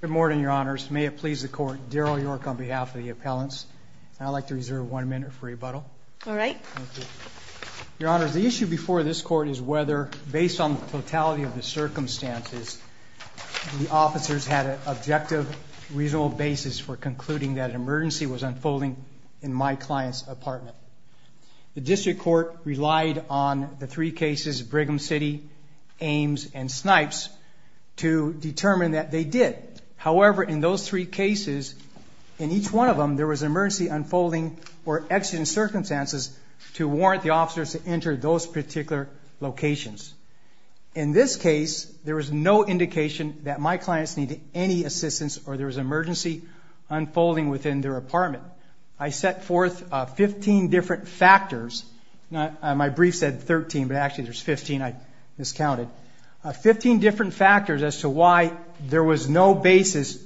Good morning, Your Honors. May it please the Court, Daryl York on behalf of the appellants. I'd like to reserve one minute for rebuttal. All right. Thank you. Your Honors, the issue before this Court is whether, based on the totality of the circumstances, the officers had an objective, reasonable basis for concluding that an emergency was unfolding in my client's apartment. The District Court relied on the three cases, Brigham City, Ames, and Snipes, to determine that they did. However, in those three cases, in each one of them, there was an emergency unfolding or accident circumstances to warrant the officers to enter those particular locations. In this case, there was no indication that my clients needed any assistance or there was an emergency unfolding within their apartment. I set forth 15 different factors. My brief said 13, but actually there's 15 I miscounted. Fifteen different factors as to why there was no basis,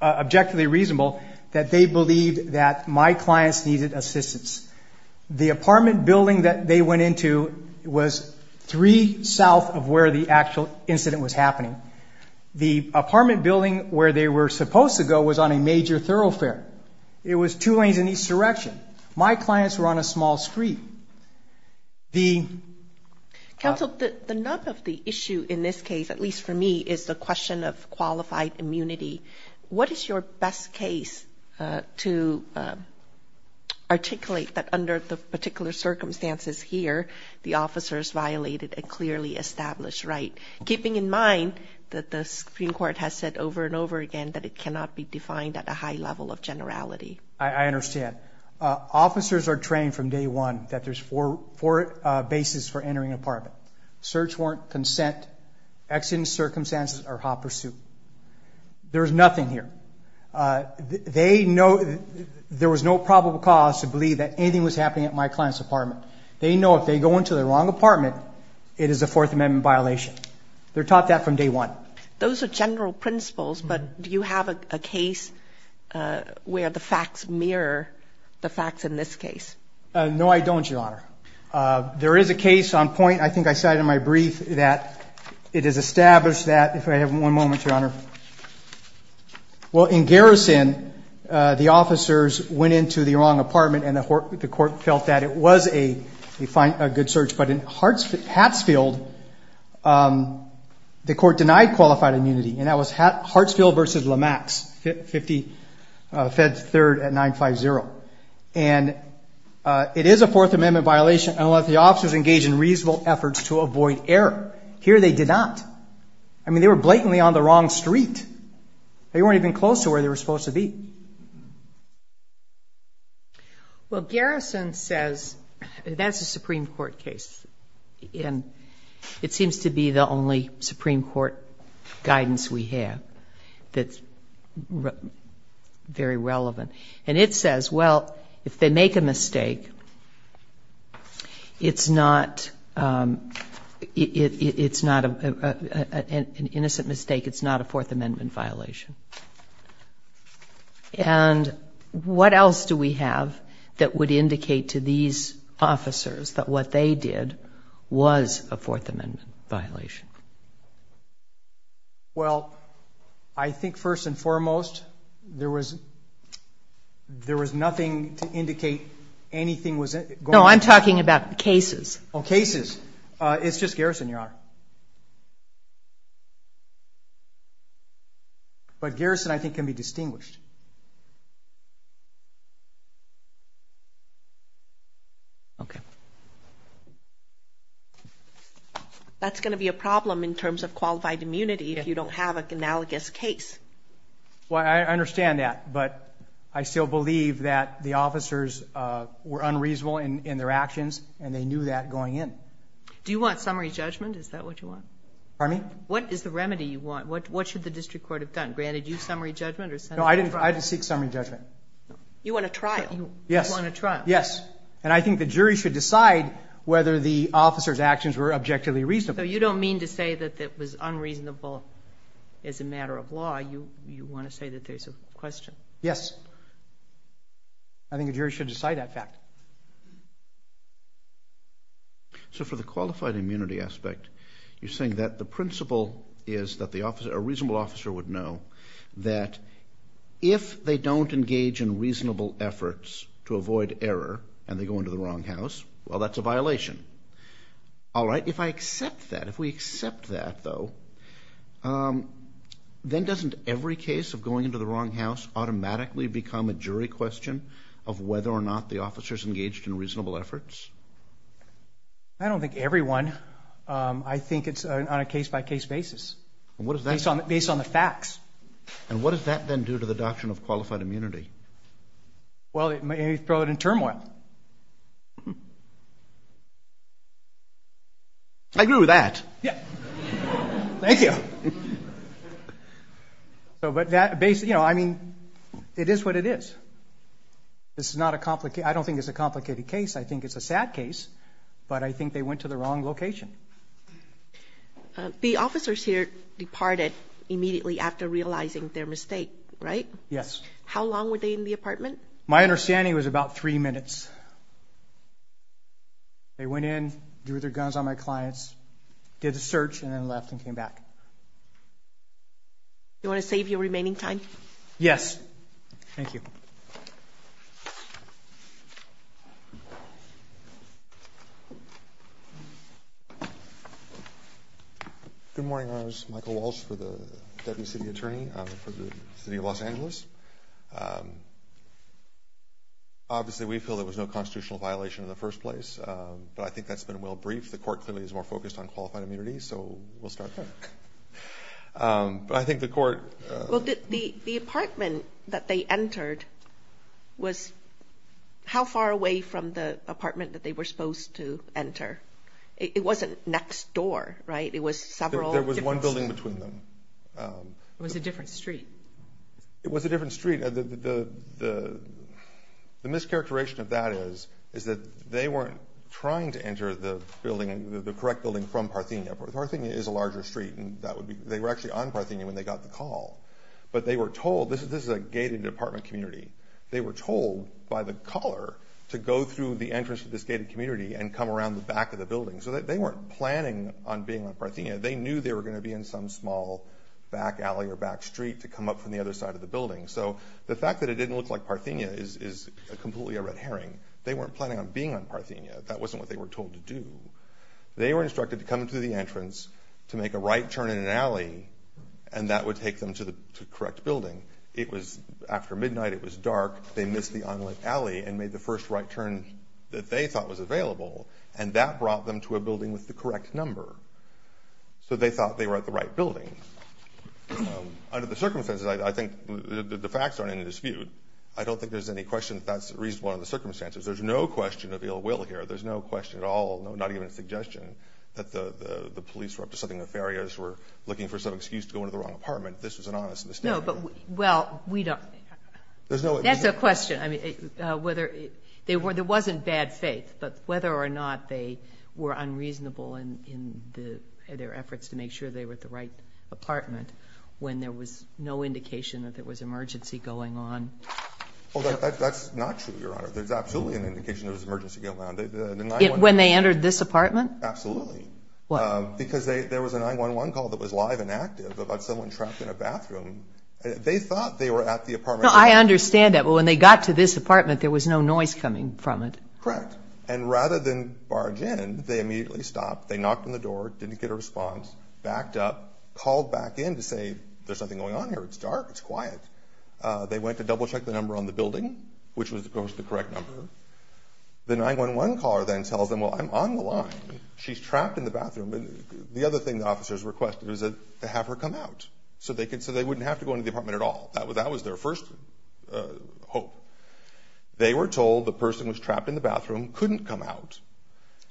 objectively reasonable, that they believed that my clients needed assistance. The apartment building that they went into was three south of where the actual incident was happening. The apartment building where they were supposed to go was on a major thoroughfare. It was two lanes in each direction. My clients were on a small street. Counsel, the nub of the issue in this case, at least for me, is the question of qualified immunity. What is your best case to articulate that under the particular circumstances here, the officers violated a clearly established right, keeping in mind that the Supreme Court has said over and over again that it cannot be defined at a high level of generality? I understand. Officers are trained from day one that there's four bases for entering an apartment. Search warrant, consent, accident circumstances, or hot pursuit. There's nothing here. They know there was no probable cause to believe that anything was happening at my client's apartment. They know if they go into the wrong apartment, it is a Fourth Amendment violation. They're taught that from day one. Those are general principles, but do you have a case where the facts mirror the facts in this case? No, I don't, Your Honor. There is a case on point, I think I cited in my brief, that it is established that, if I have one moment, Your Honor. Well, in Garrison, the officers went into the wrong apartment, and the court felt that it was a good search. But in Hartsfield, the court denied qualified immunity, and that was Hartsfield v. LaMax, 50 Feds 3rd at 950. And it is a Fourth Amendment violation unless the officers engage in reasonable efforts to avoid error. Here they did not. I mean, they were blatantly on the wrong street. They weren't even close to where they were supposed to be. Well, Garrison says that's a Supreme Court case, and it seems to be the only Supreme Court guidance we have that's very relevant. And it says, well, if they make a mistake, it's not an innocent mistake, it's not a Fourth Amendment violation. And what else do we have that would indicate to these officers that what they did was a Fourth Amendment violation? Well, I think first and foremost, there was nothing to indicate anything was going on. No, I'm talking about cases. Oh, cases. It's just Garrison, Your Honor. But Garrison, I think, can be distinguished. Okay. That's going to be a problem in terms of qualified immunity if you don't have an analogous case. Well, I understand that, but I still believe that the officers were unreasonable in their actions, and they knew that going in. Do you want summary judgment? Is that what you want? Pardon me? What is the remedy you want? What should the district court have done? Granted, you summary judgment or sentencing trial? No, I didn't seek summary judgment. You want a trial. Yes. You want a trial. Yes. And I think the jury should decide whether the officers' actions were objectively reasonable. So you don't mean to say that it was unreasonable as a matter of law. You want to say that there's a question. Yes. I think the jury should decide that fact. So for the qualified immunity aspect, you're saying that the principle is that a reasonable officer would know that if they don't engage in reasonable efforts to avoid error and they go into the wrong house, well, that's a violation. All right. If I accept that, if we accept that, though, then doesn't every case of going into the wrong house automatically become a jury question of whether or not the officers engaged in reasonable efforts? I don't think everyone. I think it's on a case-by-case basis based on the facts. And what does that then do to the doctrine of qualified immunity? Well, it may throw it in turmoil. I agree with that. Yeah. Thank you. So but that basically, you know, I mean, it is what it is. This is not a complicated. I don't think it's a complicated case. I think it's a sad case, but I think they went to the wrong location. The officers here departed immediately after realizing their mistake, right? Yes. How long were they in the apartment? My understanding was about three minutes. They went in, drew their guns on my clients, did the search, and then left and came back. You want to save your remaining time? Yes. Thank you. Thank you. Good morning, Your Honors. Michael Walsh for the Deputy City Attorney for the City of Los Angeles. Obviously, we feel there was no constitutional violation in the first place, but I think that's been well briefed. The court clearly is more focused on qualified immunity, so we'll start there. But I think the court— Well, the apartment that they entered was how far away from the apartment that they were supposed to enter? It wasn't next door, right? It was several— There was one building between them. It was a different street. It was a different street. The mischaracterization of that is that they weren't trying to enter the building, the correct building from Parthenia. Parthenia is a larger street, and that would be— But they were told— This is a gated apartment community. They were told by the caller to go through the entrance to this gated community and come around the back of the building. So they weren't planning on being on Parthenia. They knew they were going to be in some small back alley or back street to come up from the other side of the building. So the fact that it didn't look like Parthenia is completely a red herring. They weren't planning on being on Parthenia. That wasn't what they were told to do. They were instructed to come through the entrance to make a right turn in an alley, and that would take them to the correct building. It was after midnight. It was dark. They missed the only alley and made the first right turn that they thought was available, and that brought them to a building with the correct number. So they thought they were at the right building. Under the circumstances, I think the facts aren't in dispute. I don't think there's any question that that's reasonable under the circumstances. There's no question of ill will here. There's no question at all, not even a suggestion, that the police were up to something nefarious, were looking for some excuse to go into the wrong apartment. This was an honest mistake. No, but, well, we don't... There's no... That's a question. I mean, whether... There wasn't bad faith, but whether or not they were unreasonable in their efforts to make sure they were at the right apartment when there was no indication that there was emergency going on... Oh, that's not true, Your Honor. There's absolutely an indication there was an emergency going on. When they entered this apartment? Absolutely. Why? Because there was a 911 call that was live and active about someone trapped in a bathroom. They thought they were at the apartment... No, I understand that. But when they got to this apartment, there was no noise coming from it. Correct. And rather than barge in, they immediately stopped. They knocked on the door, didn't get a response, backed up, called back in to say, there's something going on here, it's dark, it's quiet. They went to double-check the number on the building, which was, of course, the correct number. The 911 caller then tells them, well, I'm on the line, she's trapped in the bathroom. The other thing the officers requested was to have her come out so they wouldn't have to go into the apartment at all. That was their first hope. They were told the person who was trapped in the bathroom couldn't come out,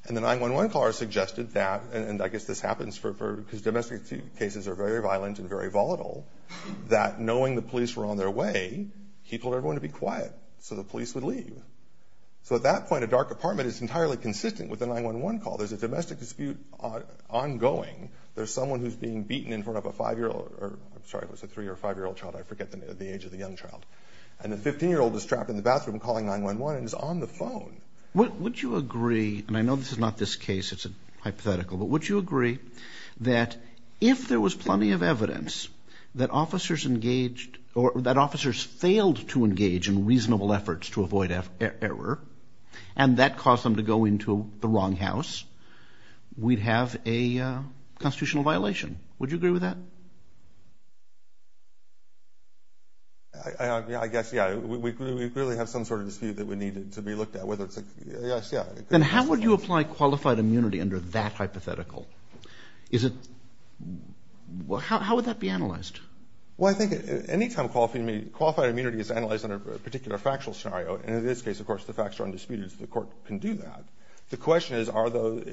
and the 911 caller suggested that, and I guess this happens because domestic cases are very violent and very volatile, that knowing the police were on their way, he told everyone to be quiet so the police would leave. So at that point, a dark apartment is entirely consistent with a 911 call. There's a domestic dispute ongoing. There's someone who's being beaten in front of a 5-year-old, or, I'm sorry, it was a 3- or 5-year-old child, I forget the age of the young child. And the 15-year-old is trapped in the bathroom calling 911 and is on the phone. Would you agree, and I know this is not this case, it's a hypothetical, but would you agree that if there was plenty of evidence that officers engaged, or that officers failed to engage in reasonable efforts to avoid error, and that caused them to go into the wrong house, we'd have a constitutional violation? Would you agree with that? I guess, yeah. We really have some sort of dispute that would need to be looked at, whether it's a, yes, yeah. Then how would you apply qualified immunity under that hypothetical? Is it, well, how would that be analyzed? Well, I think any time qualified immunity, it's analyzed under a particular factual scenario. And in this case, of course, the facts are undisputed, so the court can do that. The question is,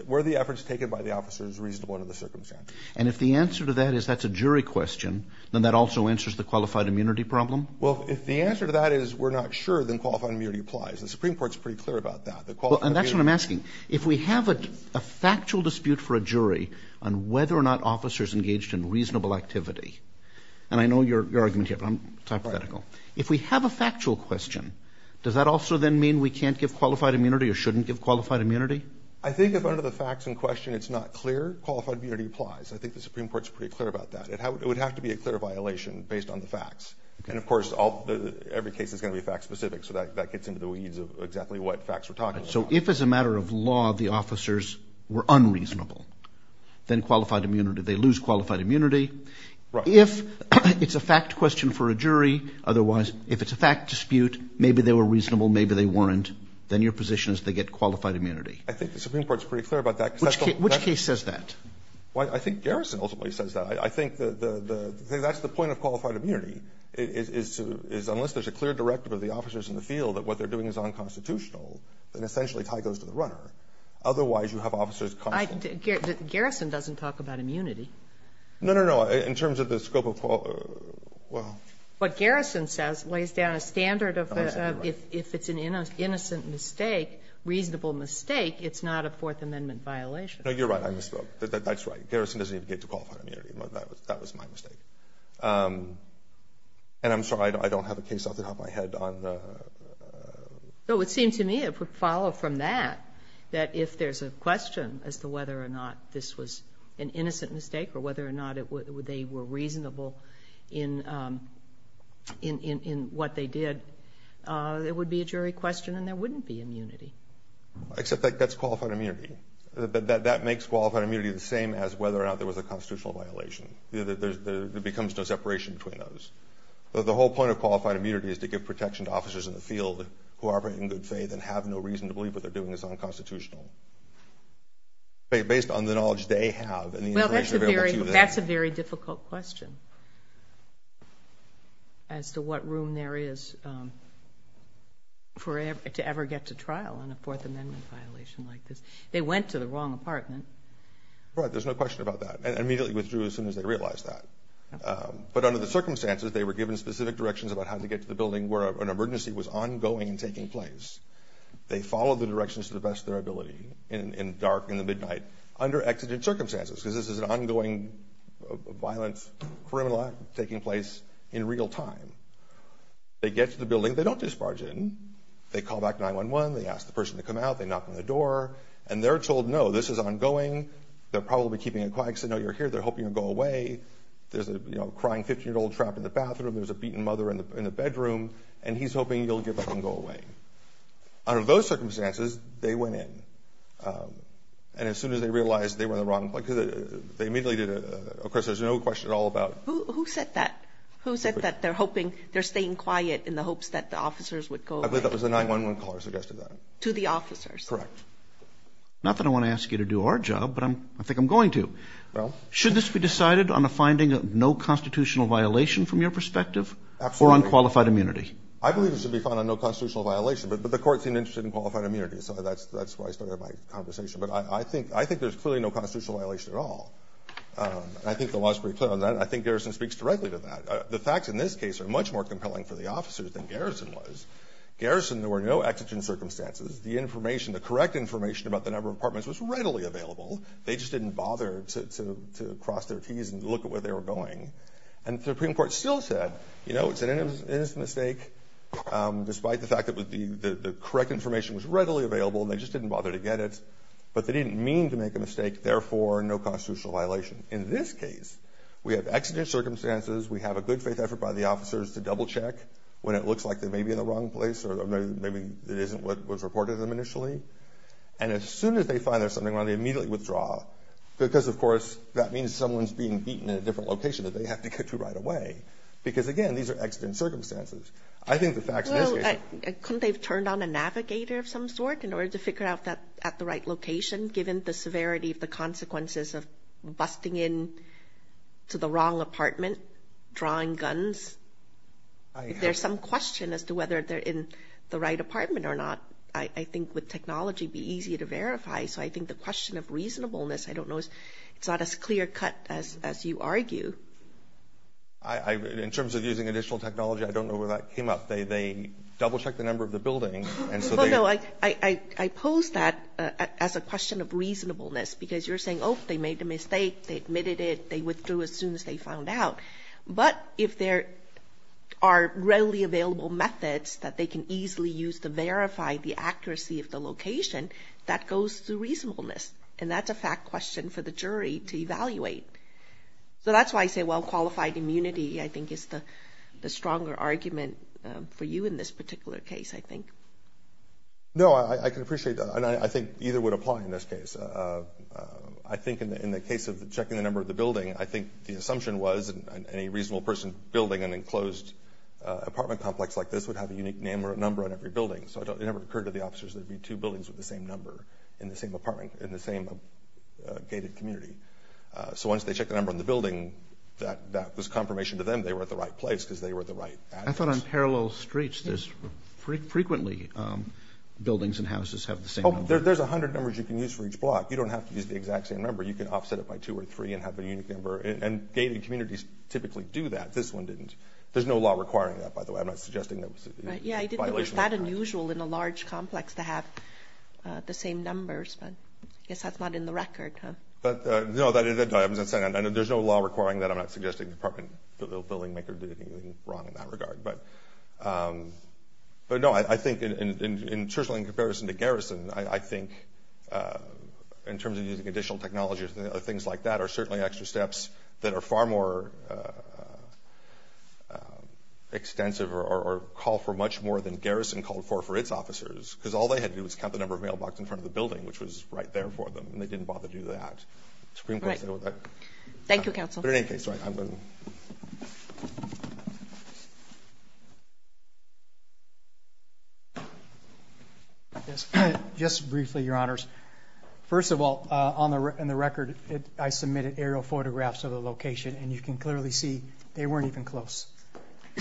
were the efforts taken by the officers reasonable under the circumstances? And if the answer to that is that's a jury question, then that also answers the qualified immunity problem? Well, if the answer to that is we're not sure, then qualified immunity applies. The Supreme Court's pretty clear about that. And that's what I'm asking. If we have a factual dispute for a jury on whether or not officers engaged in reasonable activity, and I know your argument here, but it's hypothetical. If we have a factual question, does that also then mean we can't give qualified immunity or shouldn't give qualified immunity? I think if under the facts in question it's not clear, qualified immunity applies. I think the Supreme Court's pretty clear about that. It would have to be a clear violation based on the facts. And, of course, every case is going to be fact-specific, so that gets into the weeds of exactly what facts we're talking about. So if, as a matter of law, the officers were unreasonable, then qualified immunity, they lose qualified immunity. If it's a fact question for a jury, otherwise, if it's a fact dispute, maybe they were reasonable, maybe they weren't, then your position is they get qualified immunity. I think the Supreme Court's pretty clear about that. Which case says that? Well, I think Garrison ultimately says that. I think that's the point of qualified immunity, is unless there's a clear directive of the officers in the field that what they're doing is unconstitutional, then essentially tie goes to the runner. Otherwise, you have officers constantly. Garrison doesn't talk about immunity. No, no, no. In terms of the scope of quality, well. What Garrison says lays down a standard of if it's an innocent mistake, reasonable mistake, it's not a Fourth Amendment violation. No, you're right. I misspoke. That's right. Garrison doesn't even get to qualified immunity. That was my mistake. And I'm sorry. I don't have a case off the top of my head on the ---- So it would seem to me, if we follow from that, that if there's a question as to whether or not this was an innocent mistake or whether or not they were reasonable in what they did, it would be a jury question and there wouldn't be immunity. Except that's qualified immunity. That makes qualified immunity the same as whether or not there was a constitutional violation. There becomes no separation between those. The whole point of qualified immunity is to give protection to officers in the field who are in good faith and have no reason to believe what they're doing is unconstitutional. Based on the knowledge they have and the information available to them. That's a very difficult question as to what room there is to ever get to trial on a Fourth Amendment violation like this. They went to the wrong apartment. Right. There's no question about that. And immediately withdrew as soon as they realized that. But under the circumstances, they were given specific directions about how to get to the building where an emergency was ongoing and taking place. They followed the directions to the best of their ability in dark, in the midnight, under exigent circumstances. Because this is an ongoing violent criminal act taking place in real time. They get to the building. They don't disbarge in. They call back 911. They ask the person to come out. They knock on the door. And they're told, no, this is ongoing. They're probably keeping it quiet. They say, no, you're here. They're hoping you'll go away. There's a crying 15-year-old trapped in the bathroom. There's a beaten mother in the bedroom. And he's hoping you'll get back and go away. Under those circumstances, they went in. And as soon as they realized they were in the wrong place, they immediately did a, of course, there's no question at all about. Who said that? Who said that they're hoping, they're staying quiet in the hopes that the officers would go away? I believe that was the 911 caller who suggested that. To the officers? Correct. Not that I want to ask you to do our job, but I think I'm going to. Well. Should this be decided on a finding of no constitutional violation from your perspective? Absolutely. Or on qualified immunity? I believe it should be found on no constitutional violation. But the court seemed interested in qualified immunity. So that's why I started my conversation. But I think there's clearly no constitutional violation at all. I think the law is pretty clear on that. I think Garrison speaks directly to that. The facts in this case are much more compelling for the officers than Garrison was. Garrison, there were no exigent circumstances. The information, the correct information about the number of apartments was readily available. They just didn't bother to cross their T's and look at where they were going. And the Supreme Court still said, you know, it's an innocent mistake. Despite the fact that the correct information was readily available, they just didn't bother to get it. But they didn't mean to make a mistake. Therefore, no constitutional violation. In this case, we have exigent circumstances. We have a good faith effort by the officers to double check when it looks like they may be in the wrong place or maybe it isn't what was reported to them initially. And as soon as they find there's something wrong, they immediately withdraw. Because, of course, that means someone's being beaten in a different location that they have to get to right away. Because, again, these are exigent circumstances. I think the facts in this case... Well, couldn't they have turned on a navigator of some sort in order to figure out that at the right location, given the severity of the consequences of busting in to the wrong apartment, drawing guns? If there's some question as to whether they're in the right apartment or not, I think with technology, it would be easy to verify. So I think the question of reasonableness, I don't know, it's not as clear-cut as you argue. In terms of using additional technology, I don't know where that came up. They double-checked the number of the building, and so they... Well, no, I pose that as a question of reasonableness. Because you're saying, oh, they made a mistake, they admitted it, they withdrew as soon as they found out. But if there are readily available methods that they can easily use to verify the accuracy of the location, that goes through reasonableness. And that's a fact question for the jury to evaluate. So that's why I say well-qualified immunity, I think, is the stronger argument for you in this particular case, I think. No, I can appreciate that. And I think either would apply in this case. I think in the case of checking the number of the building, I think the assumption was any reasonable person building an enclosed apartment complex like this would have a unique name or a number on every building. So it never occurred to the officers there'd be two buildings with the same number in the same apartment, in the same gated community. So once they checked the number on the building, that was confirmation to them they were at the right place because they were at the right address. I thought on parallel streets there's frequently buildings and houses have the same number. Oh, there's 100 numbers you can use for each block. You don't have to use the exact same number. You can offset it by two or three and have a unique number. And gated communities typically do that. This one didn't. I'm not suggesting that was a violation of the law. Yeah, I didn't think it was that unusual in a large complex to have the same numbers. But I guess that's not in the record, huh? But, no, there's no law requiring that. I'm not suggesting the apartment building maker did anything wrong in that regard. But, no, I think in terms of in comparison to garrison, I think in terms of using additional technology or things like that are certainly extra steps that are far more extensive or call for much more than garrison called for for its officers. Because all they had to do was count the number of mailboxes in front of the building, which was right there for them. And they didn't bother to do that. Right. Thank you, counsel. But in any case, I'm going to... Just briefly, Your Honors. First of all, in the record, I submitted aerial photographs of the location. And you can clearly see they weren't even close.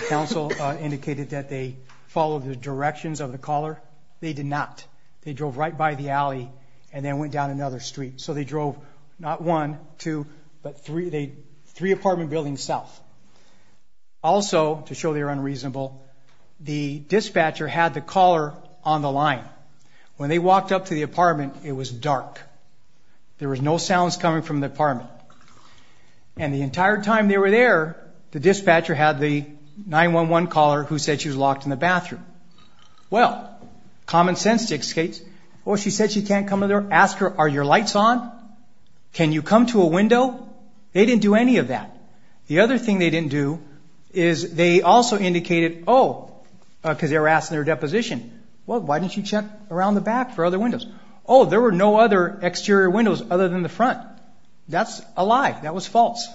Counsel indicated that they followed the directions of the caller. They did not. They drove right by the alley and then went down another street. So they drove not one, two, but three apartment buildings south. Also, to show they're unreasonable, the dispatcher had the caller on the line. When they walked up to the apartment, it was dark. There was no sounds coming from the apartment. And the entire time they were there, the dispatcher had the 911 caller who said she was locked in the bathroom. Well, common sense dictates, oh, she said she can't come in there. Ask her, are your lights on? Can you come to a window? They didn't do any of that. The other thing they didn't do is they also indicated, oh, because they were asking their deposition. Well, why didn't you check around the back for other windows? Oh, there were no other exterior windows other than the front. That's a lie. That was false.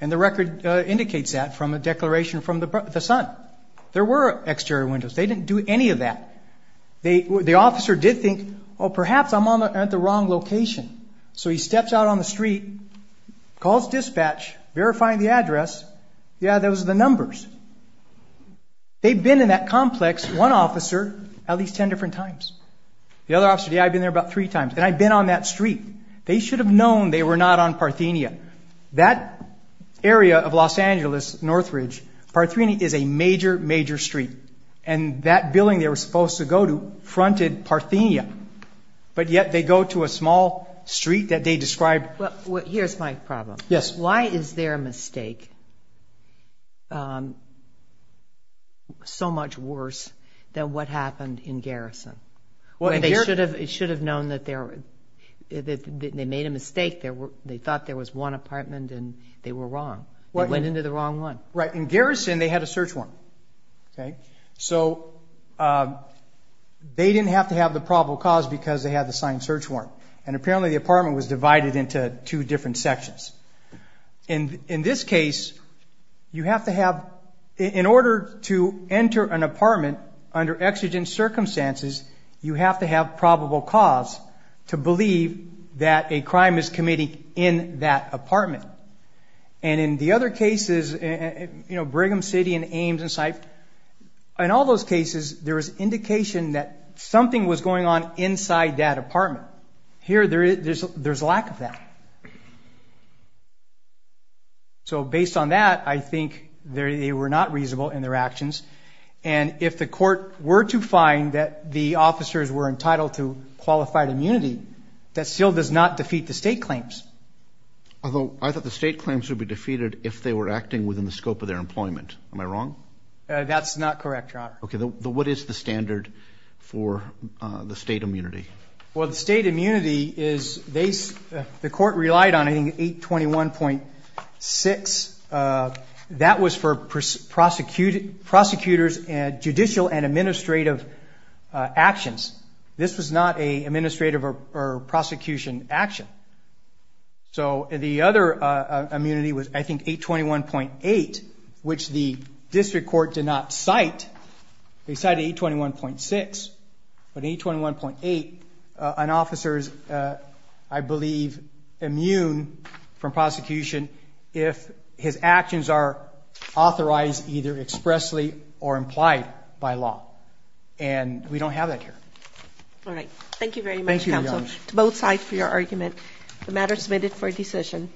And the record indicates that from a declaration from the son. There were exterior windows. They didn't do any of that. The officer did think, oh, perhaps I'm at the wrong location. So he steps out on the street, calls dispatch, verifying the address. Yeah, those are the numbers. They've been in that complex, one officer, at least ten different times. The other officer, yeah, I've been there about three times. And I've been on that street. They should have known they were not on Parthenia. That area of Los Angeles, Northridge, Parthenia is a major, major street. And that building they were supposed to go to fronted Parthenia, but yet they go to a small street that they described. Here's my problem. Yes. Why is their mistake so much worse than what happened in Garrison? It should have known that they made a mistake. They thought there was one apartment, and they were wrong. They went into the wrong one. Right. In Garrison, they had a search warrant. So they didn't have to have the probable cause because they had the signed search warrant. And apparently the apartment was divided into two different sections. In this case, you have to have, in order to enter an apartment under exigent circumstances, you have to have probable cause to believe that a crime is committed in that apartment. And in the other cases, you know, Brigham City and Ames and Syph, in all those cases, there was indication that something was going on inside that apartment. Here there's lack of that. So based on that, I think they were not reasonable in their actions. And if the court were to find that the officers were entitled to qualified immunity, that still does not defeat the state claims. Although I thought the state claims would be defeated if they were acting within the scope of their employment. Am I wrong? That's not correct, Your Honor. Okay. What is the standard for the state immunity? Well, the state immunity is they, the court relied on, I think, 821.6. That was for prosecutors and judicial and administrative actions. This was not an administrative or prosecution action. So the other immunity was, I think, 821.8, which the district court did not cite. They cited 821.6, but 821.8, an officer is, I believe, immune from prosecution if his actions are authorized either expressly or implied by law. And we don't have that here. All right. Thank you, Your Honor. Thank you to both sides for your argument. The matter is submitted for decision.